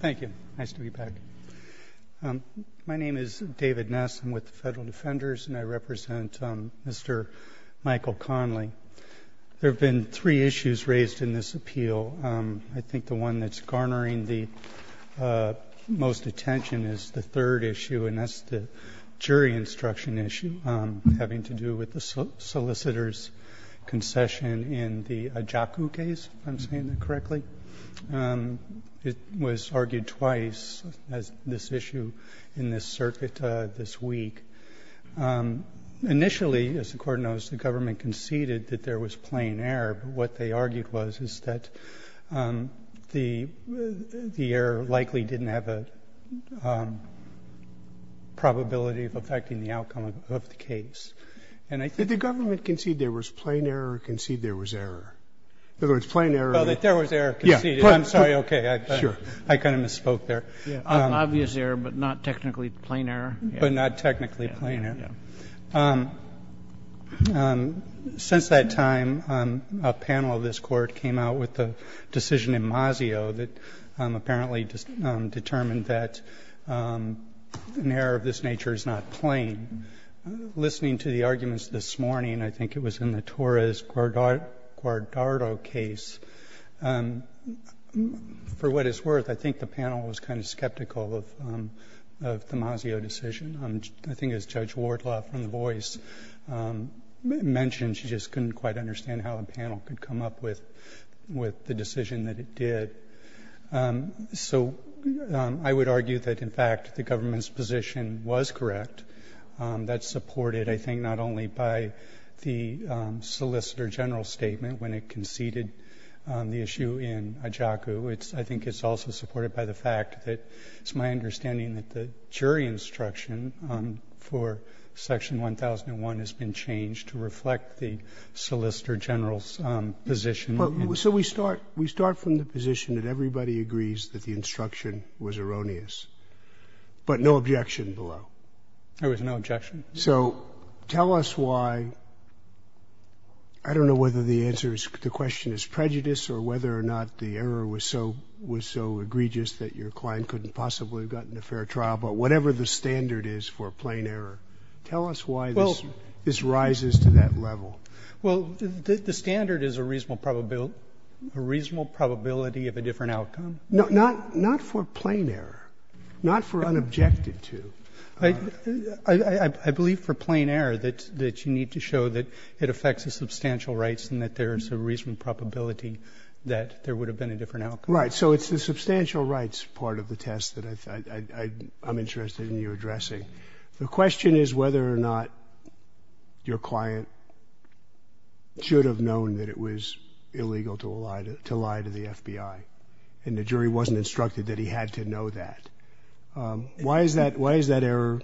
Thank you. Nice to be back. My name is David Ness. I'm with the Federal Defenders and I represent Mr. Michael Connelly. There have been three issues raised in this appeal. I think the one that's garnering the most attention is the third issue, and that's the jury instruction issue having to do with the solicitor's concession in the Ajaku case, if I'm saying that correctly. It was argued twice as this issue in this circuit this week. Initially, as the Court knows, the government conceded that there was plain error, but what they argued was is that the error likely didn't have a probability of affecting the outcome of the case. And I think the government conceded there was plain error or conceded there was error? In other words, plain error. Oh, that there was error conceded. I'm sorry. Okay. Sure. I kind of misspoke there. Obvious error, but not technically plain error. But not technically plain error. Yeah. Since that time, a panel of this Court came out with a decision in Masio that apparently determined that an error of this nature is not plain. Listening to the arguments this morning, I think it was in the Torres-Guardado case, for what it's worth, I think the panel was kind of skeptical of the Masio decision. I think as Judge Wardlaw from The Voice mentioned, she just couldn't quite understand how a panel could come up with the decision that it did. So I would argue that, in fact, the government's position was correct. That's supported, I think, not only by the Solicitor General's statement when it conceded the issue in Ajaku. I think it's also supported by the fact that it's my understanding that the jury instruction for Section 1001 has been changed to reflect the Solicitor General's position. So we start from the position that everybody agrees that the instruction was erroneous, but no objection below. There was no objection. So tell us why. I don't know whether the answer to the question is prejudice or whether or not the error was so egregious that your client couldn't possibly have gotten a fair trial. But whatever the standard is for plain error, tell us why this rises to that level. Well, the standard is a reasonable probability of a different outcome. Not for plain error, not for unobjected to. I believe for plain error that you need to show that it affects the substantial rights and that there is a reasonable probability that there would have been a different outcome. Right. So it's the substantial rights part of the test that I'm interested in you addressing. The question is whether or not your client should have known that it was illegal to lie to the FBI and the jury wasn't instructed that he had to know that. Why is that error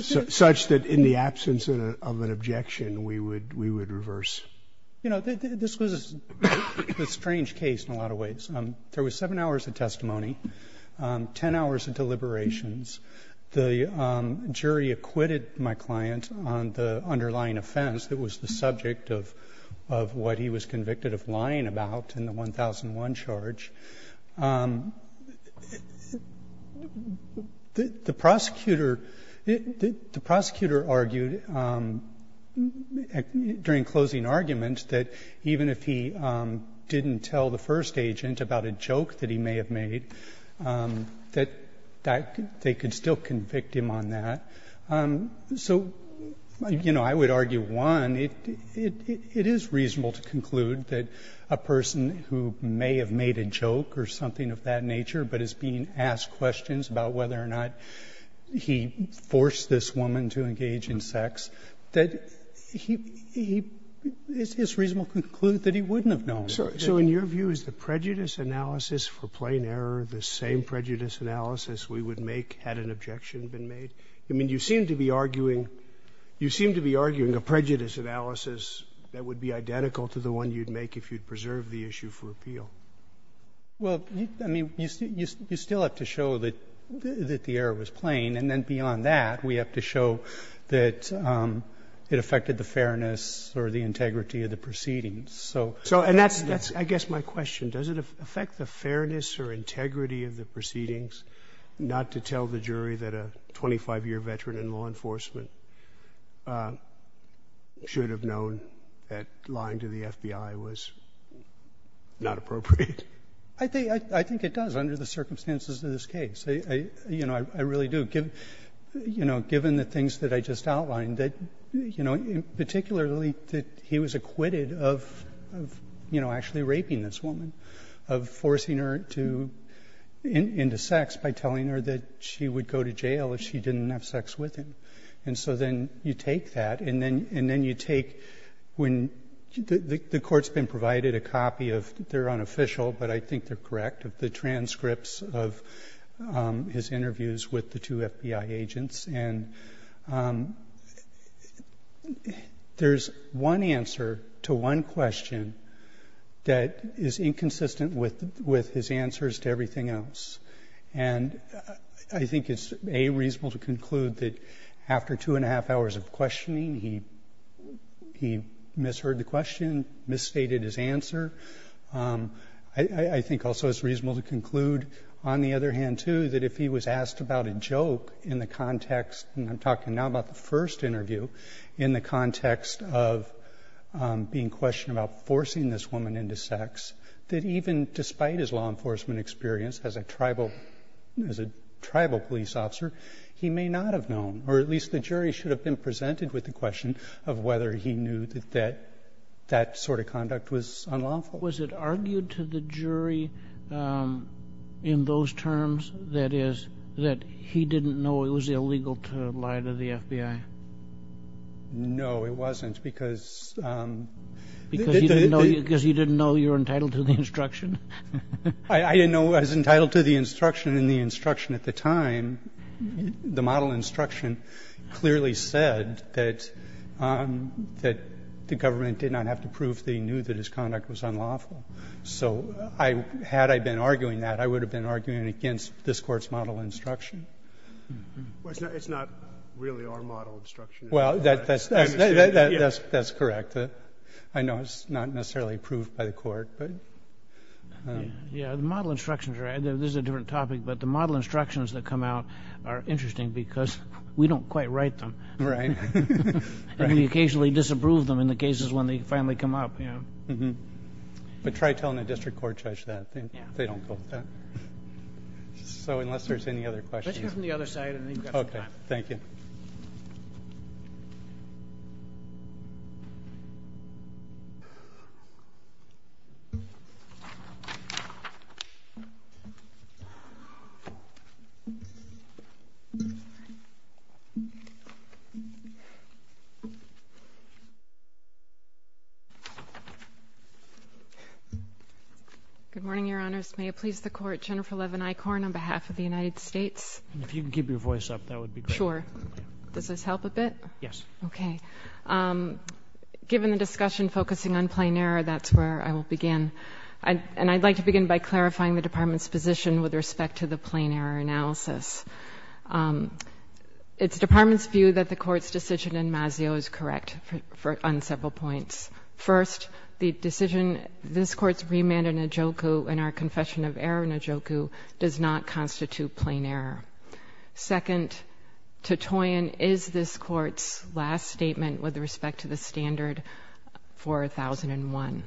such that in the absence of an objection we would reverse? You know, this was a strange case in a lot of ways. There was seven hours of testimony, ten hours until liberations. The jury acquitted my client on the underlying offense that was the subject of what he was convicted of lying about in the 1001 charge. The prosecutor argued during closing argument that even if he didn't tell the first agent about a joke that he may have made, that they could still convict him on that. So, you know, I would argue, one, it is reasonable to conclude that a person who may have made a joke or something of that nature but is being asked questions about whether or not he forced this woman to engage in sex, that he is reasonable to conclude that he wouldn't have known. So in your view, is the prejudice analysis for plain error the same prejudice analysis we would make had an objection been made? I mean, you seem to be arguing a prejudice analysis that would be identical to the one you'd make if you'd preserve the issue for appeal. Well, I mean, you still have to show that the error was plain, and then beyond that we have to show that it affected the fairness or the integrity of the proceedings. So yes. And that's, I guess, my question. Does it affect the fairness or integrity of the proceedings not to tell the jury that a 25-year veteran in law enforcement should have known that lying to the FBI was not appropriate? I think it does under the circumstances of this case. You know, I really do. You know, given the things that I just outlined, that, you know, particularly that he was acquitted of, you know, actually raping this woman, of forcing her into sex by telling her that she would go to jail if she didn't have sex with him. And so then you take that, and then you take when the court's been provided a copy of their unofficial, but I think they're correct, of the transcripts of his interviews with the two FBI agents. And there's one answer to one question that is inconsistent with his answers to everything else. And I think it's, A, reasonable to conclude that after two and a half hours of questioning he misheard the question, misstated his answer. I think also it's reasonable to conclude, on the other hand, too, that if he was asked about a joke in the context, and I'm talking now about the first interview, in the context of being questioned about forcing this woman into sex, that even despite his law enforcement experience as a tribal police officer, he may not have known or at least the jury should have been presented with the question of whether he knew that that sort of conduct was unlawful. Was it argued to the jury in those terms, that is, that he didn't know it was illegal to lie to the FBI? No, it wasn't, because the the... Because you didn't know you were entitled to the instruction? I didn't know I was entitled to the instruction, and the instruction at the time, the model instruction clearly said that the government did not have to prove that he knew that his conduct was unlawful. So had I been arguing that, I would have been arguing it against this Court's model instruction. Well, it's not really our model instruction. Well, that's correct. I know it's not necessarily approved by the Court, but... Yeah, the model instructions are right. This is a different topic, but the model instructions that come out are interesting because we don't quite write them. Right. And we occasionally disapprove them in the cases when they finally come up. But try telling the district court judge that. They don't go with that. So unless there's any other questions... Let's hear from the other side, and then you've got some time. Okay, thank you. Good morning, Your Honors. May it please the Court, Jennifer Levin Eichorn on behalf of the United States. And if you can keep your voice up, that would be great. Sure. Does this help a bit? Yes. Okay. Given the discussion focusing on plain error, that's where I will begin. And I'd like to begin by clarifying the Department's position with respect to the plain error analysis. It's the Department's view that the Court's decision in Masio is correct on several points. First, the decision, this Court's remand in our confession of error does not constitute plain error. Second, to Toyin, is this Court's last statement with respect to the standard for 1001.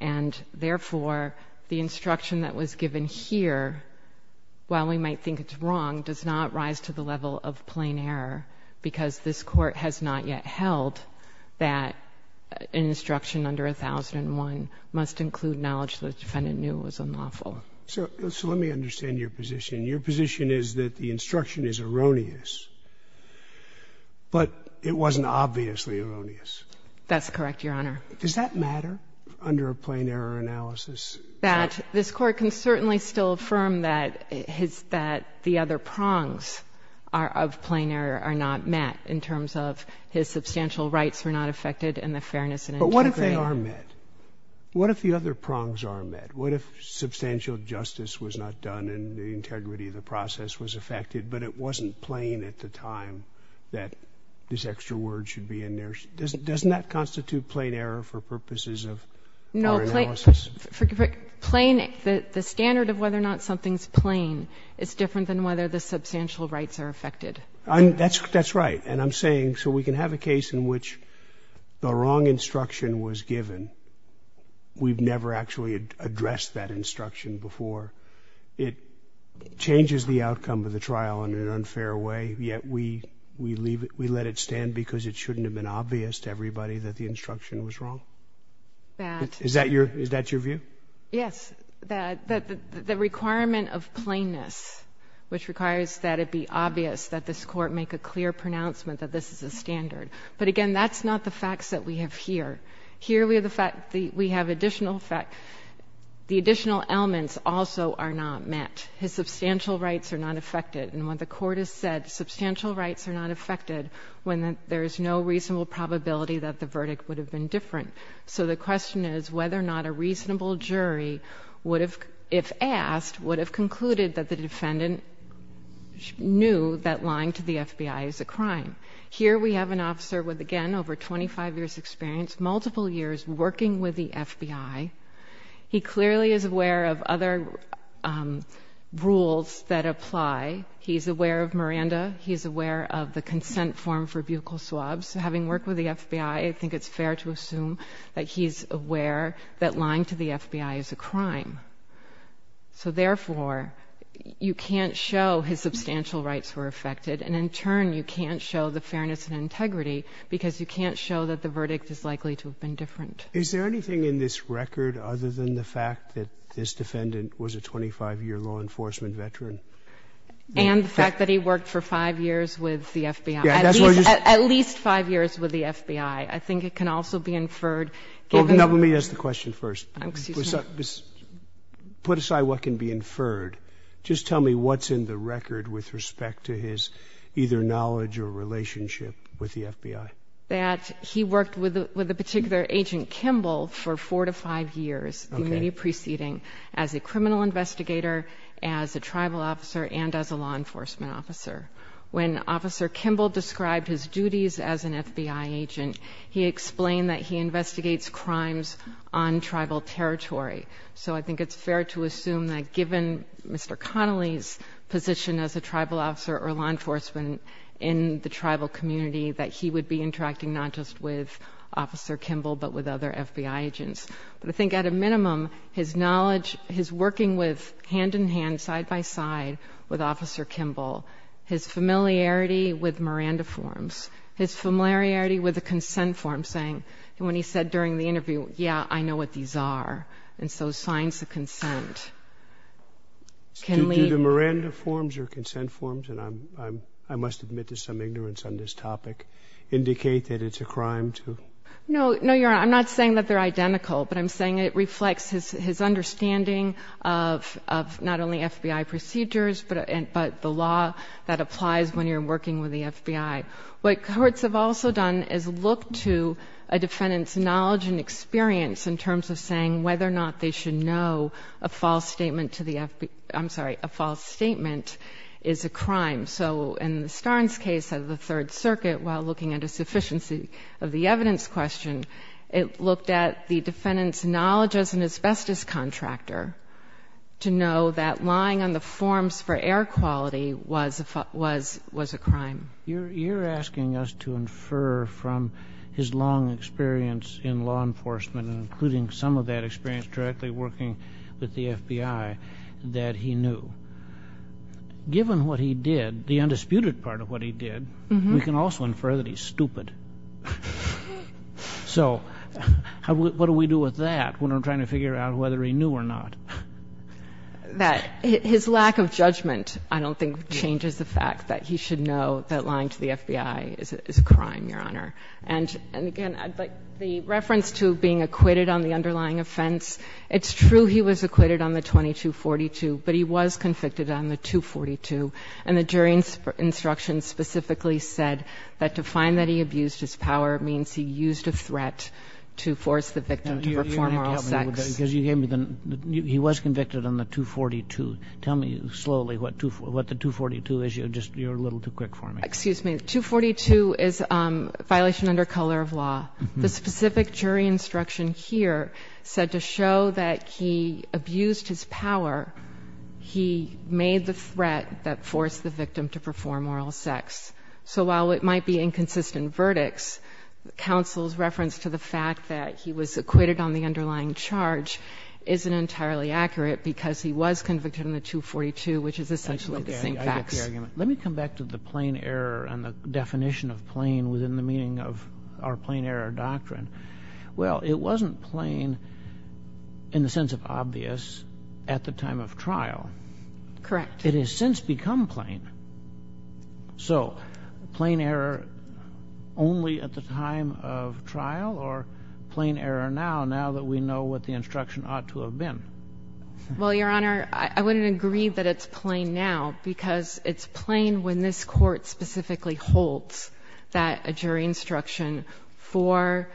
And, therefore, the instruction that was given here, while we might think it's wrong, does not rise to the level of plain error because this Court has not yet held that an instruction under 1001 must include knowledge the defendant knew was unlawful. So let me understand your position. Your position is that the instruction is erroneous, but it wasn't obviously erroneous. That's correct, Your Honor. Does that matter under a plain error analysis? That this Court can certainly still affirm that the other prongs of plain error are not met in terms of his substantial rights were not affected and the fairness and integrity. But what if they are met? What if the other prongs are met? What if substantial justice was not done and the integrity of the process was affected, but it wasn't plain at the time that this extra word should be in there? Doesn't that constitute plain error for purposes of our analysis? No. Plain, the standard of whether or not something is plain is different than whether the substantial rights are affected. That's right. And I'm saying, so we can have a case in which the wrong instruction was given. We've never actually addressed that instruction before. It changes the outcome of the trial in an unfair way, yet we leave it, we let it stand because it shouldn't have been obvious to everybody that the instruction was wrong. Is that your view? Yes. The requirement of plainness, which requires that it be obvious, that this Court make a clear pronouncement that this is a standard. But, again, that's not the facts that we have here. Here we have additional facts. The additional elements also are not met. His substantial rights are not affected. And when the Court has said substantial rights are not affected, there is no reasonable probability that the verdict would have been different. So the question is whether or not a reasonable jury, if asked, would have concluded that the defendant knew that lying to the FBI is a crime. Here we have an officer with, again, over 25 years' experience, multiple years working with the FBI. He clearly is aware of other rules that apply. He's aware of Miranda. He's aware of the consent form for buccal swabs. Having worked with the FBI, I think it's fair to assume that he's aware that lying to the FBI is a crime. So, therefore, you can't show his substantial rights were affected, and in turn you can't show the fairness and integrity because you can't show that the verdict is likely to have been different. Is there anything in this record other than the fact that this defendant was a 25-year law enforcement veteran? And the fact that he worked for five years with the FBI. At least five years with the FBI. I think it can also be inferred, given the... Well, let me ask the question first. Put aside what can be inferred. Just tell me what's in the record with respect to his either knowledge or relationship with the FBI. That he worked with a particular agent, Kimball, for four to five years, the immediate preceding, as a criminal investigator, as a tribal officer, and as a law enforcement officer. When Officer Kimball described his duties as an FBI agent, he explained that he investigates crimes on tribal territory. So I think it's fair to assume that given Mr. Connolly's position as a tribal officer or law enforcement in the tribal community, that he would be interacting not just with Officer Kimball but with other FBI agents. But I think at a minimum, his knowledge, his working hand-in-hand, side-by-side, with Officer Kimball, his familiarity with Miranda forms, his familiarity with the consent forms, saying, when he said during the interview, yeah, I know what these are, and so signs of consent. Do the Miranda forms or consent forms, and I must admit there's some ignorance on this topic, indicate that it's a crime to? No. No, Your Honor, I'm not saying that they're identical, but I'm saying it reflects his understanding of not only FBI procedures but the law that applies when you're working with the FBI. What cohorts have also done is look to a defendant's knowledge and experience in terms of saying whether or not they should know a false statement to the FBI. I'm sorry, a false statement is a crime. So in the Starnes case of the Third Circuit, while looking at a sufficiency of the evidence question, it looked at the defendant's knowledge as an asbestos contractor to know that lying on the forms for air quality was a crime. You're asking us to infer from his long experience in law enforcement and including some of that experience directly working with the FBI that he knew. Given what he did, the undisputed part of what he did, we can also infer that he's stupid. So what do we do with that when we're trying to figure out whether he knew or not? That his lack of judgment I don't think changes the fact that he should know that lying to the FBI is a crime, Your Honor. And again, the reference to being acquitted on the underlying offense, it's true he was acquitted on the 2242, but he was convicted on the 242. And the jury instruction specifically said that to find that he abused his power means he used a threat to force the victim to perform oral sex. He was convicted on the 242. Tell me slowly what the 242 is. You're a little too quick for me. Excuse me. The 242 is a violation under color of law. The specific jury instruction here said to show that he abused his power, he made the threat that forced the victim to perform oral sex. So while it might be inconsistent verdicts, counsel's reference to the fact that he was acquitted on the underlying charge isn't entirely accurate because he was convicted on the 242, which is essentially the same facts. Let me come back to the plain error and the definition of plain within the meaning of our plain error doctrine. Well, it wasn't plain in the sense of obvious at the time of trial. Correct. It has since become plain. So plain error only at the time of trial or plain error now, now that we know what the instruction ought to have been? Well, Your Honor, I wouldn't agree that it's plain now because it's plain when this Court specifically holds that a jury instruction for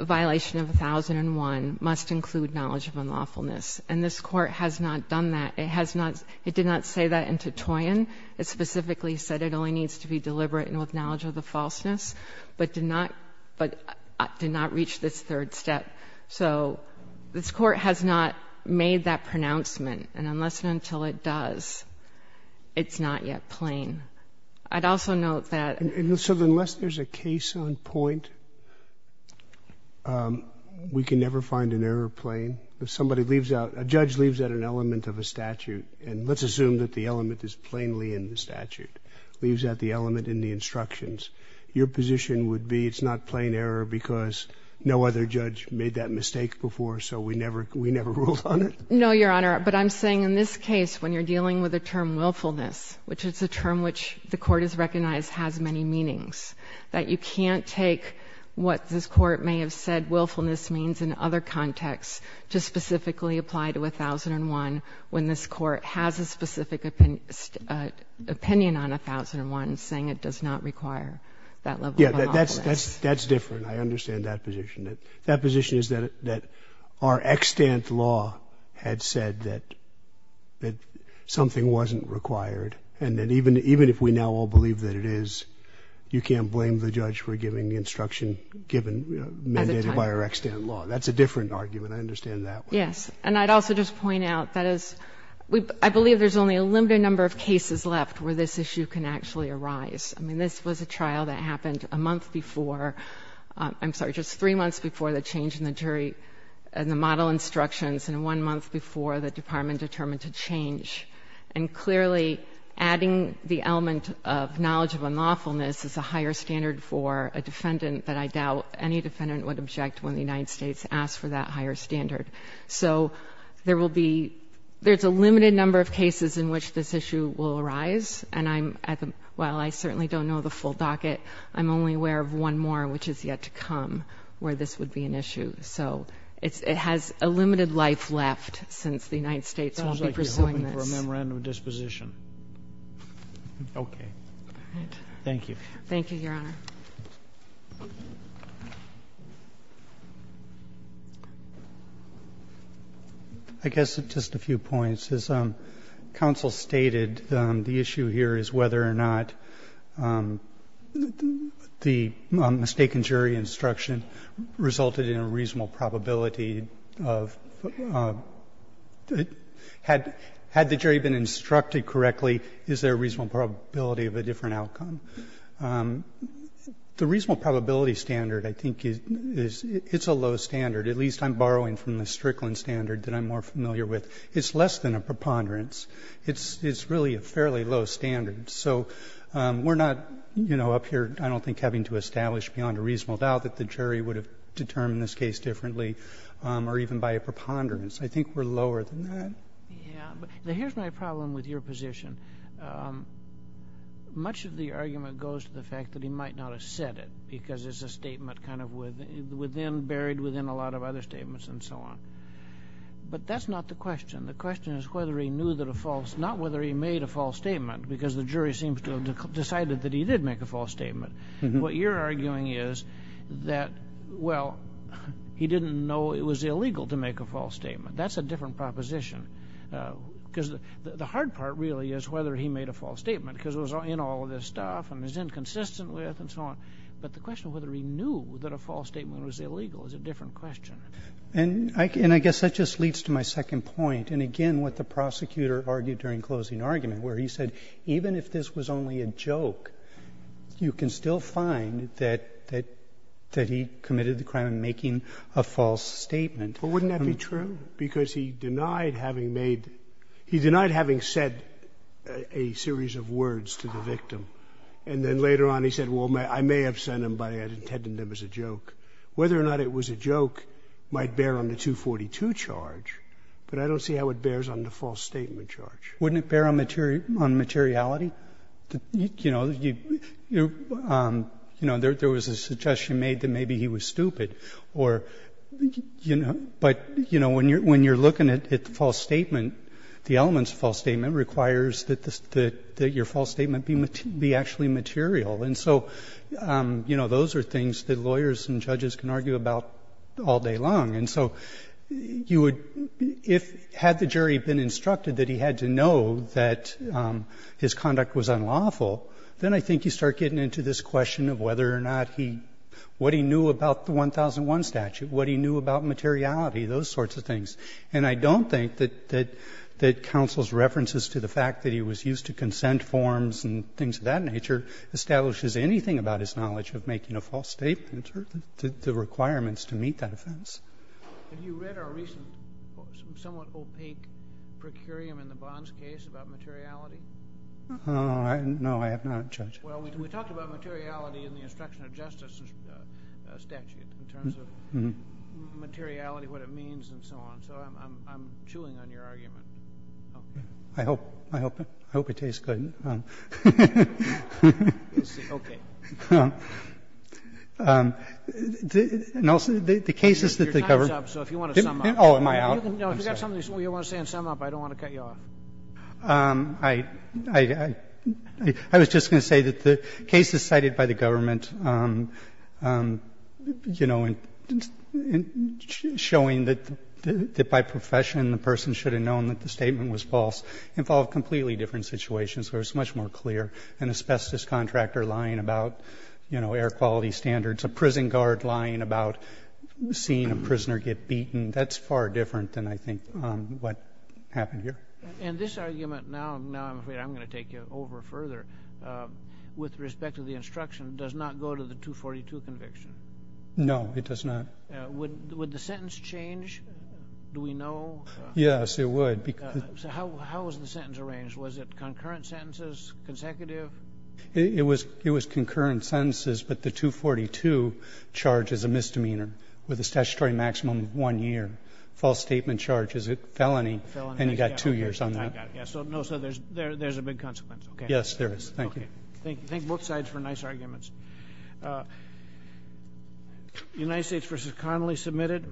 violation of 1001 must include knowledge of unlawfulness. And this Court has not done that. It has not. It did not say that in Titoyen. It specifically said it only needs to be deliberate and with knowledge of the falseness, but did not reach this third step. So this Court has not made that pronouncement. And unless and until it does, it's not yet plain. I'd also note that unless there's a case on point, we can never find an error plain. If somebody leaves out, a judge leaves out an element of a statute, and let's assume that the element is plainly in the statute, leaves out the element in the instructions, your position would be it's not plain error because no other judge made that mistake before, so we never ruled on it? No, Your Honor. But I'm saying in this case, when you're dealing with a term willfulness, which is a term which the Court has recognized has many meanings, that you can't take what this Court may have said willfulness means in other contexts to specifically apply to 1001 when this Court has a specific opinion on 1001, saying it does not require that level of knowledge. Yeah, that's different. I understand that position. That position is that our extant law had said that something wasn't required, and that even if we now all believe that it is, you can't blame the judge for giving the instruction given, mandated by our extant law. That's a different argument. I understand that one. Yes. And I'd also just point out that as we — I believe there's only a limited number of cases left where this issue can actually arise. I mean, this was a trial that happened a month before — I'm sorry, just three months before the change in the jury — in the model instructions, and one month before the Department determined to change. And clearly, adding the element of knowledge of unlawfulness is a higher standard for a defendant that I doubt any defendant would object when the United States asked for that higher standard. So there will be — there's a limited number of cases in which this issue will arise, and I'm — while I certainly don't know the full docket, I'm only aware of one more which is yet to come where this would be an issue. So it has a limited life left since the United States won't be pursuing this. Sounds like you're hoping for a memorandum of disposition. Okay. All right. Thank you. Thank you, Your Honor. I guess just a few points. As counsel stated, the issue here is whether or not the mistaken jury instruction resulted in a reasonable probability of — had the jury been instructed correctly, is there a reasonable probability of a different outcome? The reasonable probability standard, I think, is — it's a low standard. At least I'm borrowing from the Strickland standard that I'm more familiar with. It's less than a preponderance. It's really a fairly low standard. So we're not, you know, up here, I don't think, having to establish beyond a reasonable doubt that the jury would have determined this case differently or even by a preponderance. I think we're lower than that. Yeah. Now, here's my problem with your position. Much of the argument goes to the fact that he might not have said it because it's a statement kind of within — buried within a lot of other statements and so on. But that's not the question. The question is whether he knew that a false — not whether he made a false statement because the jury seems to have decided that he did make a false statement. What you're arguing is that, well, he didn't know it was illegal to make a false statement. That's a different proposition. Because the hard part, really, is whether he made a false statement because it was in all of this stuff and it's inconsistent with and so on. But the question of whether he knew that a false statement was illegal is a different question. And I guess that just leads to my second point and, again, what the prosecutor argued during closing argument where he said, even if this was only a joke, you can still find that he committed the crime of making a false statement. But wouldn't that be true? Because he denied having made — he denied having said a series of words to the victim. And then later on he said, well, I may have said them by — I had intended them as a joke. Whether or not it was a joke might bear on the 242 charge, but I don't see how it bears on the false statement charge. Wouldn't it bear on materiality? You know, there was a suggestion made that maybe he was stupid or — but, you know, when you're looking at the false statement, the elements of false statement requires that your false statement be actually material. And so, you know, those are things that lawyers and judges can argue about all day long. And so you would — if — had the jury been instructed that he had to know that his conduct was unlawful, then I think you start getting into this question of whether or not he — what he knew about the 1001 statute, what he knew about materiality, those sorts of things. And I don't think that — that counsel's references to the fact that he was used to consent forms and things of that nature establishes anything about his knowledge of making a false statement or the requirements to meet that offense. Kennedy. Have you read our recent somewhat opaque procurium in the Bonds case about materiality? No, I have not, Judge. Well, we talked about materiality in the instruction of justice statute in terms of materiality, what it means, and so on. So I'm chewing on your argument. I hope — I hope it tastes good. We'll see. Okay. And also, the cases that they cover — Your time's up, so if you want to sum up — Oh, am I out? No, if you've got something you want to say and sum up, I don't want to cut you off. I — I was just going to say that the cases cited by the government, you know, in showing that by profession the person should have known that the statement was false involved completely different situations. It was much more clear an asbestos contractor lying about, you know, air quality standards, a prison guard lying about seeing a prisoner get beaten. That's far different than I think what happened here. And this argument, now I'm afraid I'm going to take you over further, with respect to the instruction, does not go to the 242 conviction? No, it does not. Would the sentence change? Do we know? Yes, it would. So how was the sentence arranged? Was it concurrent sentences, consecutive? It was — it was concurrent sentences, but the 242 charges a misdemeanor with a statutory maximum of one year. False statement charge is a felony, and you've got two years on that. So there's a big consequence, okay. Yes, there is. Thank you. Thank you. Thank both sides for nice arguments. United States v. Connolly submitted.